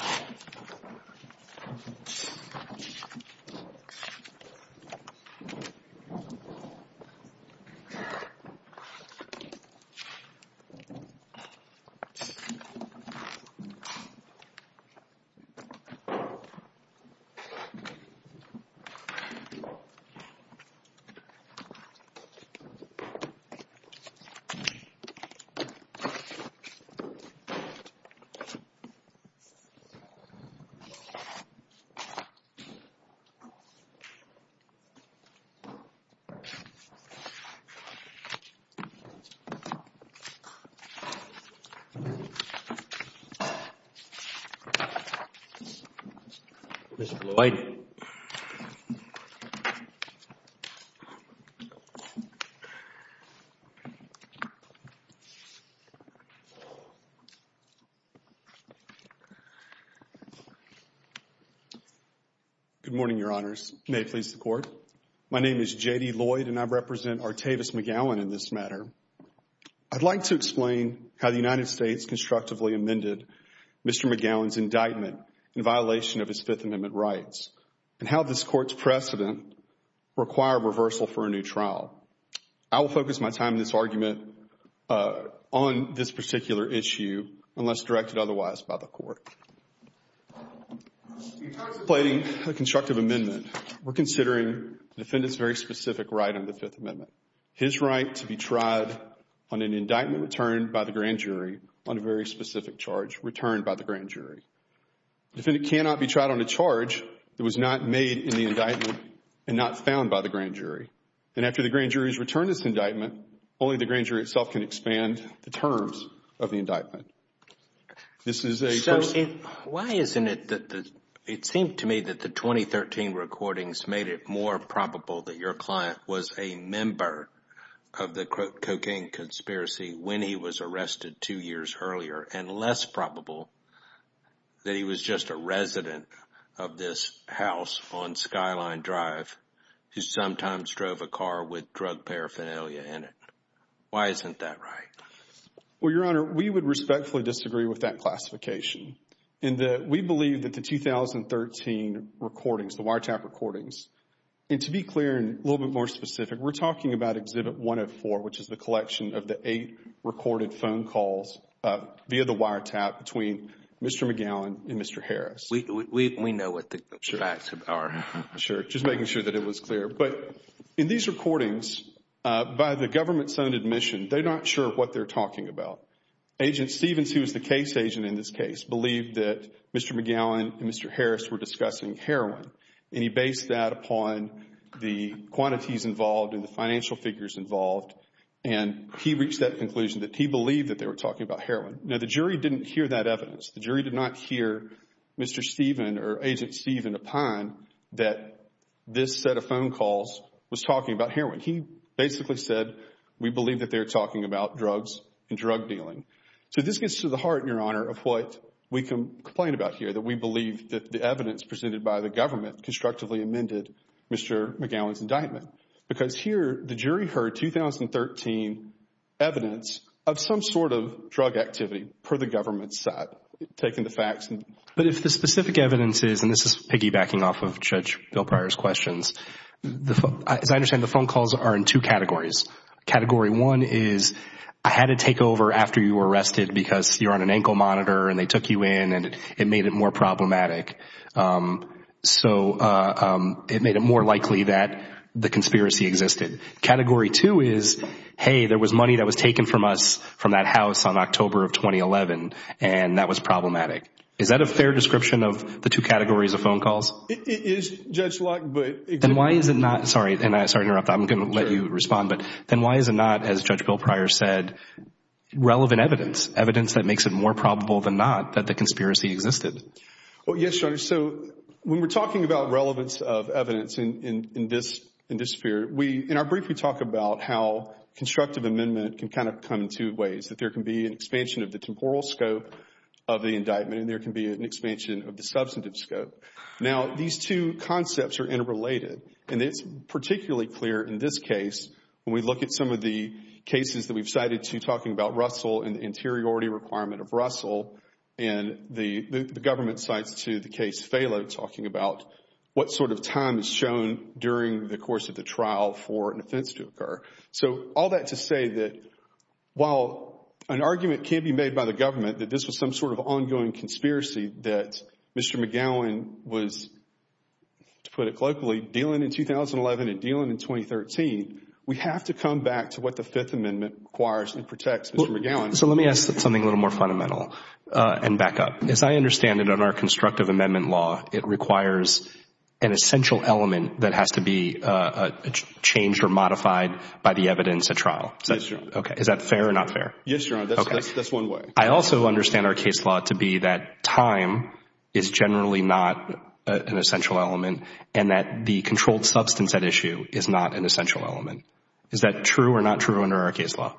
for a a it something good morning your honors haceres court engineers jayernie board represent our statement gallon this matter i'd like to explain at native state structurally amended mr goins indictment in violation of his fifth amendment rights and how this court's precedent require reversal for a new trial i'll focus my time this argument uh... on this particular issue unless directed otherwise by the court plating constructive amendment we're considering defendants very specific right of the fifth amendment his right to be tried on an indictment turned by the grand jury on a very specific charge returned by the grand jury the defendant cannot be tried on a charge that was not made in the indictment and not found by the grand jury and after the grand jury's return this indictment only the grand jury itself can expand the terms of the indictment this is a first why isn't it that it seemed to me that the twenty thirteen recordings made it more probable that your client was a member of the cocaine conspiracy when he was arrested two years earlier and less probable that he was just a resident of this house on skyline drive who sometimes drove a car with drug paraphernalia in it why isn't that right well your honor we would respectfully disagree with that classification in that we believe that the two thousand thirteen recordings the wiretap recordings and to be clear and a little bit more specific we're talking about exhibit one of four which is the collection of the eight recorded phone calls via the wiretap between Mr. McGowan and Mr. Harris we know what the facts are sure just making sure that it was clear but in these recordings uh... by the government's own admission they're not sure what they're talking about agent stevens who was the case agent in this case believed that Mr. McGowan and Mr. Harris were discussing heroin and he based that upon the quantities involved in the financial figures involved and he reached that conclusion that he believed that they were talking about heroin now the jury didn't hear that evidence the jury did not hear Mr. Steven or agent Steven upon that this set of phone calls was talking about heroin he basically said we believe that they're talking about drugs and drug dealing so this gets to the heart your honor of what we can complain about here that we believe that the evidence presented by the government constructively amended Mr. McGowan's indictment because here the jury heard two thousand thirteen evidence of some sort of drug activity per the government's side taking the facts but if the specific evidence is and this is piggybacking off of Judge Bill Pryor's questions as I understand the phone calls are in two categories category one is I had to take over after you were arrested because you're on an ankle monitor and they took you in and it made it more problematic so uh... it made it more likely that the conspiracy existed category two is hey there was money that was taken from us from that house on october of twenty eleven and that was problematic is that a fair description of the two categories of phone calls? It is Judge Locke but then why is it not sorry and I'm sorry to interrupt I'm going to let you respond but then why is it not as Judge Bill Pryor said relevant evidence evidence that makes it more probable than not that the conspiracy existed well yes your honor so when we're talking about relevance of evidence in this in this period we in our brief we talk about how constructive amendment can kind of come in two ways that there can be an expansion of the temporal scope of the indictment and there can be an expansion of the substantive scope now these two concepts are interrelated and it's particularly clear in this case when we look at some of the cases that we've cited to talking about Russell and the interiority requirement of Russell and the government sites to the case Phalo talking about what sort of time is shown during the course of the trial for an offense to occur so all that to say that while an argument can be made by the government that this was some sort of ongoing conspiracy that Mr. McGowan was to put it globally dealing in two thousand eleven and dealing in twenty thirteen so let me ask something a little more fundamental and back up. As I understand it in our constructive amendment law it requires an essential element that has to be changed or modified by the evidence at trial. Is that fair or not fair? Yes your honor, that's one way. I also understand our case law to be that time is generally not an essential element and that the controlled substance at issue is not an essential element is that true or not true under our case law?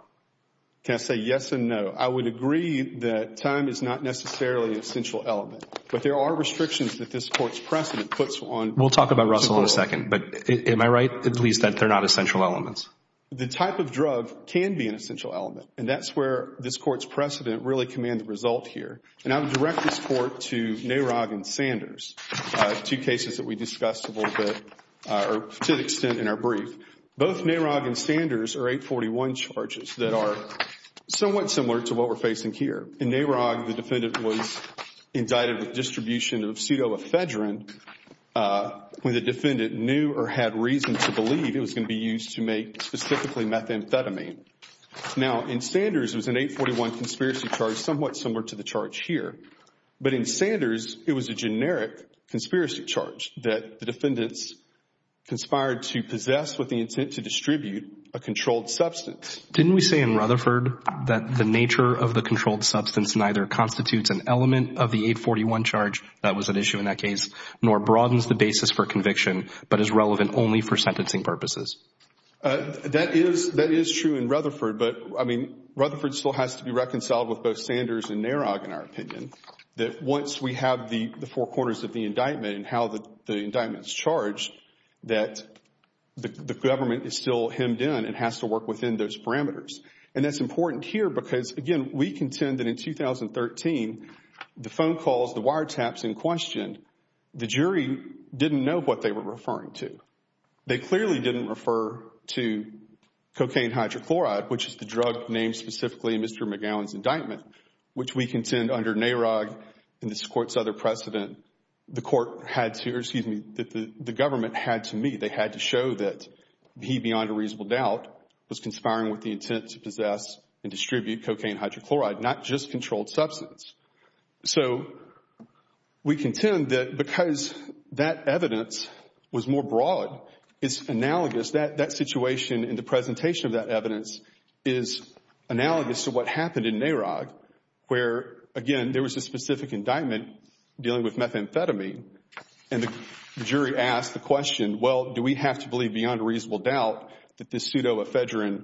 Can I say yes and no. I would agree that time is not necessarily an essential element but there are restrictions that this court's precedent puts on. We'll talk about Russell in a second but am I right at least that they're not essential elements? The type of drug can be an essential element and that's where this court's precedent really command the result here and I would direct this court to Narog and Sanders two cases that we discussed a little bit or to an extent in our brief Both Narog and Sanders are 841 charges that are somewhat similar to what we're facing here. In Narog the defendant was indicted with distribution of pseudoephedrine when the defendant knew or had reason to believe it was going to be used to make specifically methamphetamine. Now in Sanders it was an 841 conspiracy charge somewhat similar to the charge here but in Sanders it was a generic conspiracy charge that the defendants conspired to possess with the intent to distribute a controlled substance. Didn't we say in Rutherford that the nature of the controlled substance neither constitutes an element of the 841 charge that was at issue in that case nor broadens the basis for conviction but is relevant only for sentencing purposes? That is true in Rutherford but I mean Rutherford still has to be reconciled with both Sanders and Narog in our opinion that once we have the four corners of the indictment and how the indictment's charged that the government is still hemmed in and has to work within those parameters and that's important here because again we contend that in 2013 the phone calls, the wiretaps in question, the jury didn't know what they were referring to. They clearly didn't refer to cocaine hydrochloride which is the drug named Mr. McGowan's indictment which we contend under Narog and this court's other precedent the court had to or excuse me that the government had to meet. They had to show that he beyond a reasonable doubt was conspiring with the intent to possess and distribute cocaine hydrochloride not just controlled substance. So we contend that because that evidence was more broad it's analogous that that situation and the presentation of that evidence is analogous to what happened in Narog where again there was a specific indictment dealing with methamphetamine and the jury asked the question well do we have to believe beyond a reasonable doubt that this pseudoephedrine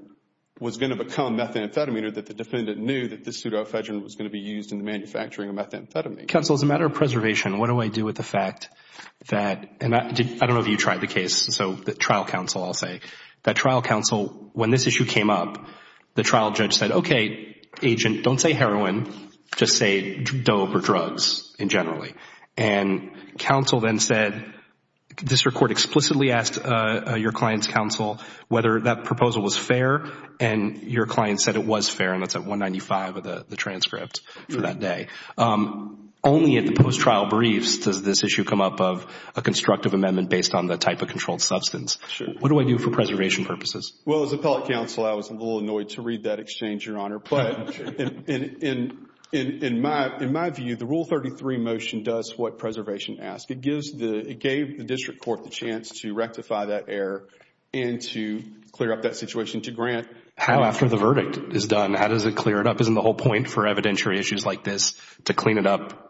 was going to become methamphetamine or that the defendant knew that this pseudoephedrine was going to be used in the manufacturing of methamphetamine. Counsel as a matter of preservation what do I do with the fact that and I don't know if you counsel I'll say that trial counsel when this issue came up the trial judge said okay agent don't say heroin just say dope or drugs in generally and counsel then said this record explicitly asked your client's counsel whether that proposal was fair and your client said it was fair and that's at 195 of the transcript for that day. Only at the post-trial briefs does this issue come up of a constructive amendment based on the type of controlled substance. What do I do for preservation purposes? Well as appellate counsel I was a little annoyed to read that exchange your honor but in my view the rule 33 motion does what preservation asks it gives the it gave the district court the chance to rectify that error and to clear up that situation to grant. How after the verdict is done how does it clear it up isn't the whole point for evidentiary issues like this to clean it up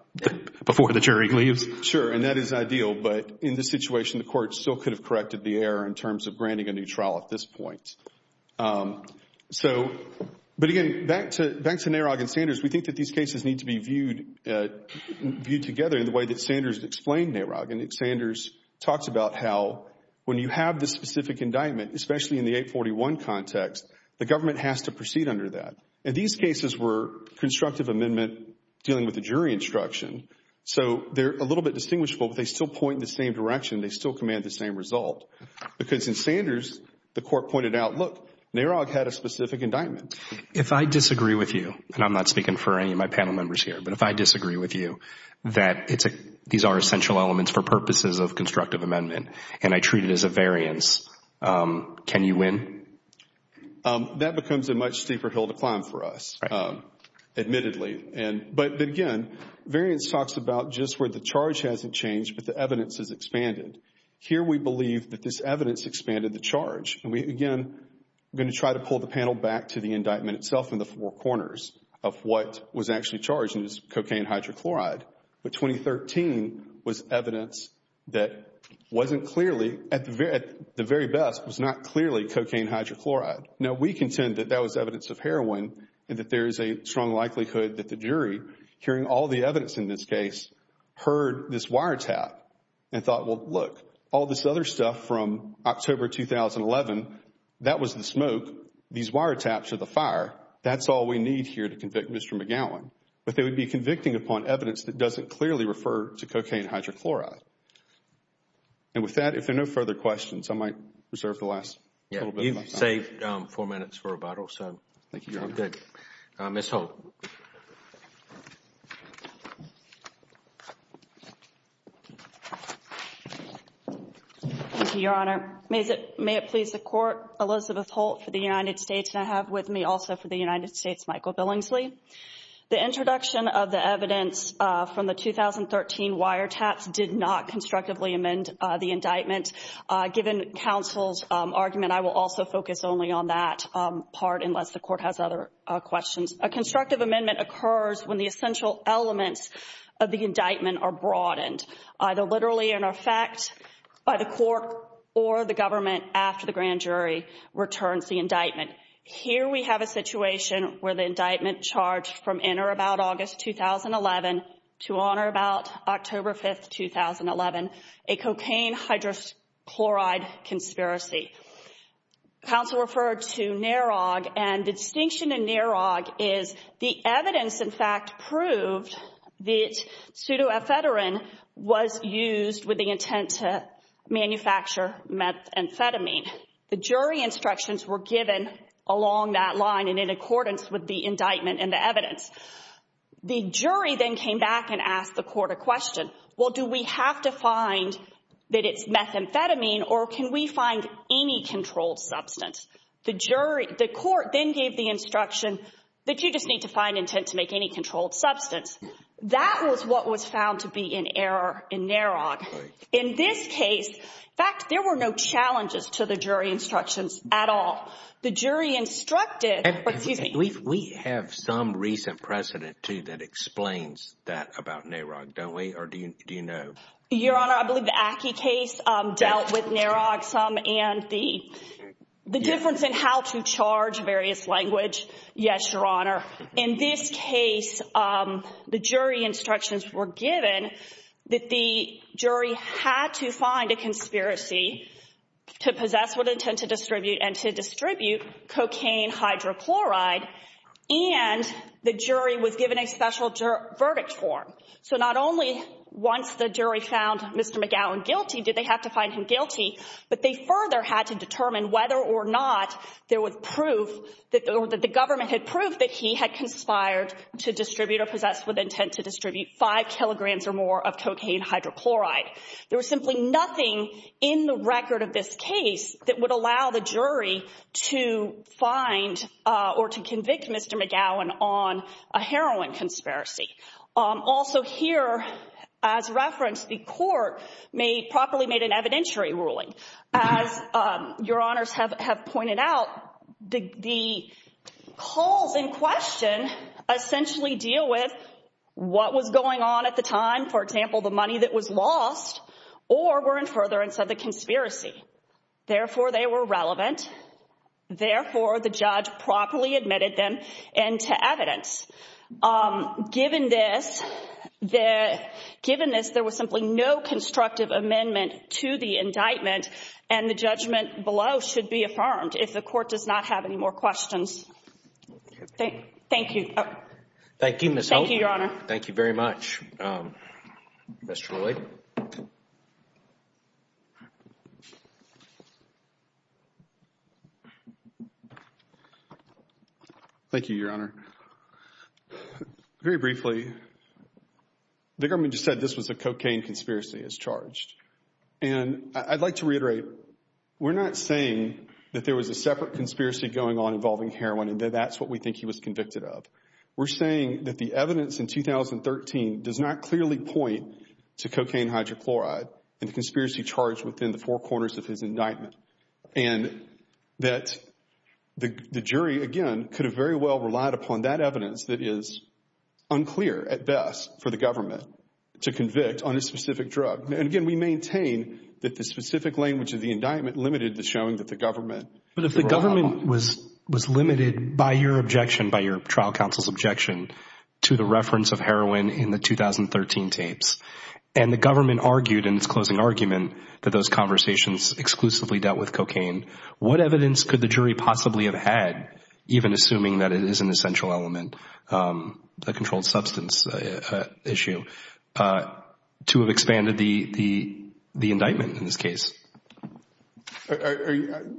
before the jury leaves? Sure and that is ideal but in this situation the court still could have corrected the error in terms of granting a new trial at this point so but again back to back to NAROG and Sanders we think that these cases need to be viewed viewed together in the way that Sanders explained NAROG and Sanders talks about how when you have this specific indictment especially in the 841 context the government has to proceed under that and these cases were constructive amendment dealing with the jury instruction so they're a little bit distinguishable but they still point in the same direction they still command the same result because in Sanders the court pointed out look NAROG had a specific indictment. If I disagree with you and I'm not speaking for any of my panel members here but if I disagree with you that it's a these are essential elements for purposes of constructive amendment and I treat it as a variance can you win? That becomes a much steeper hill to climb for us admittedly and but again variance talks about just where the charge hasn't changed but the evidence has expanded here we believe that this evidence expanded the charge and we again I'm going to try to pull the panel back to the indictment itself in the four corners of what was actually charged in this cocaine hydrochloride but 2013 was evidence that wasn't clearly at the very best was not clearly cocaine hydrochloride. Now we contend that that was evidence of heroin and that there is a strong likelihood that the jury hearing all the evidence in this case heard this wiretap and thought well look all this other stuff from October 2011 that was the smoke these wiretaps are the fire that's all we need here to clearly refer to cocaine hydrochloride and with that if there are no further questions I might reserve the last yeah you've saved um four minutes for rebuttal so thank you I'm good uh Ms. Holt. Thank you your honor may it may it please the court Elizabeth Holt for the United States and I have with me also for the United States Michael Billingsley. The introduction of the evidence uh in the 2013 wiretaps did not constructively amend the indictment uh given counsel's argument I will also focus only on that part unless the court has other questions. A constructive amendment occurs when the essential elements of the indictment are broadened either literally in effect by the court or the government after the grand jury returns the indictment. Here we have a situation where the indictment charged from in or about August 2011 to honor about October 5th 2011 a cocaine hydrochloride conspiracy. Counsel referred to NAROG and the distinction in NAROG is the evidence in fact proved that pseudoephedrine was used with the intent to manufacture methamphetamine. The jury instructions were given along that line and in accordance with the indictment and the evidence. The jury then came back and asked the court a question well do we have to find that it's methamphetamine or can we find any controlled substance? The jury the court then gave the instruction that you just need to find intent to make any controlled substance. That was what was at all the jury instructed but excuse me. We have some recent precedent too that explains that about NAROG don't we or do you do you know? Your honor I believe the ACCI case um dealt with NAROG some and the the difference in how to charge various language yes your honor. In this case um the jury instructions were given that the jury had to find a conspiracy to possess what intent to distribute and to distribute cocaine hydrochloride and the jury was given a special verdict form. So not only once the jury found Mr. McGowan guilty did they have to find him guilty but they further had to determine whether or not there was proof that the government had proved that he had conspired to distribute or possessed with intent to distribute five kilograms or more of cocaine hydrochloride. There was simply nothing in the record of this case that would allow the jury to find or to convict Mr. McGowan on a heroin conspiracy. Also here as reference the court may properly made an evidentiary ruling as your honors have have pointed out the the calls in question essentially deal with what was going on at the time for example the money that was lost or were in furtherance of the conspiracy therefore they were relevant therefore the judge properly admitted them and to evidence um given this the given this there was simply no constructive amendment to the indictment and the judgment below should be affirmed if the court does not have any more questions. Thank you. Thank you. Thank you Thank you very much um Mr. Lloyd. Thank you your honor. Very briefly the government just said this was a cocaine conspiracy as charged and I'd like to reiterate we're not saying that there was a separate conspiracy going on involving heroin and that that's what we think he was convicted of. We're saying that the evidence in 2013 does not clearly point to cocaine hydrochloride and the conspiracy charged within the four corners of his indictment and that the the jury again could have very well relied upon that evidence that is unclear at best for the government to convict on a specific drug and again we maintain that the specific language of the indictment limited the showing that the government. But if the government was was limited by your objection by your trial counsel's objection to the reference of heroin in the 2013 tapes and the government argued in its closing argument that those conversations exclusively dealt with cocaine what evidence could the jury possibly have had even assuming that it is an essential element um a controlled substance issue uh to have expanded the the the indictment in this case?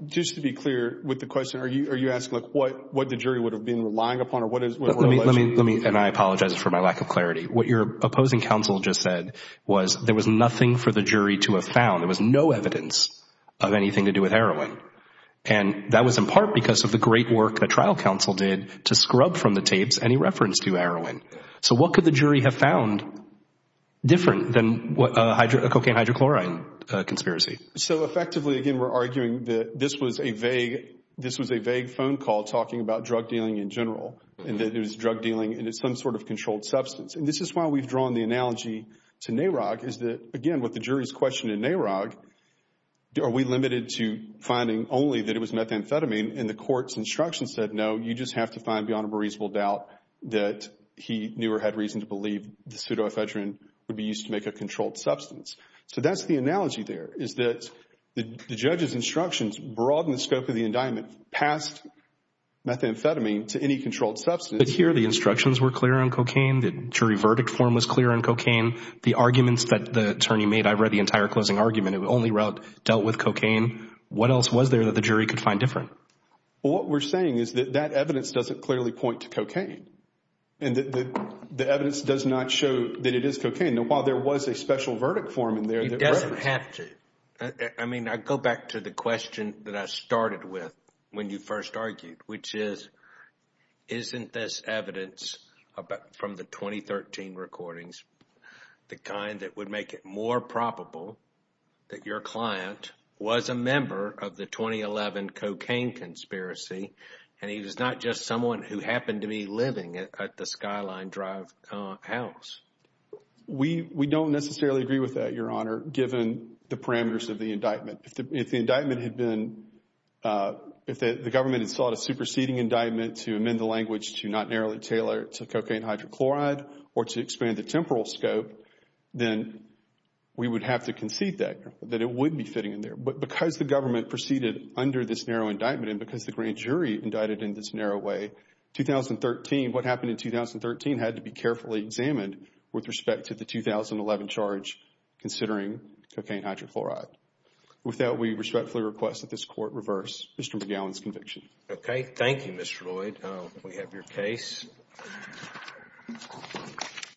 Just to be clear with the question are you are you asking like what what the jury would have been relying upon or what is let me let me and I apologize for my lack of clarity what your opposing counsel just said was there was nothing for the jury to have found there was no evidence of anything to do with heroin and that was in part because of the great work the trial counsel did to scrub from the tapes any reference to heroin. So what could the jury have found different than what a cocaine hydrochloride conspiracy? So effectively again we're arguing that this was a vague this was a vague phone call talking about drug dealing in general and that there was drug dealing and it's some sort of controlled substance and this is why we've drawn the analogy to NAROG is that again what the jury's question in NAROG are we limited to finding only that it was methamphetamine and the court's instruction said no you just have to find beyond a reasonable doubt that he knew or had reason to believe the pseudo-phedrine would be used to make a controlled substance. So that's the analogy there is that the judge's instructions broaden the scope of the indictment past methamphetamine to any controlled substance. But here the instructions were clear on cocaine the jury verdict form was clear on cocaine the arguments that the attorney made I read the entire closing argument it only dealt with cocaine what else was there that the jury could find different? What we're saying is that that evidence doesn't clearly point to cocaine and that the evidence does not show that it is cocaine. Now while there was a special verdict form in there. It doesn't have to I mean I go back to the question that I started with when you first argued which is isn't this evidence about from the 2013 recordings the kind that would make it more probable that your client was a member of the 2011 cocaine conspiracy and he was not just someone who happened to be living at the Skyline Drive house? We don't necessarily agree with that your honor given the parameters of the indictment. If the indictment had been if the government had sought a superseding indictment to amend the language to not narrowly tailor to cocaine hydrochloride or to expand the temporal scope then we would have to concede that that it would be fitting in there. But because the government proceeded under this narrow indictment and because the grand jury indicted in this narrow way 2013 what happened in 2013 had to be carefully examined with respect to the 2011 charge considering cocaine hydrochloride. With that we respectfully request that this court reverse Mr. McGowan's conviction. Okay thank you Mr. Lloyd. We have your case.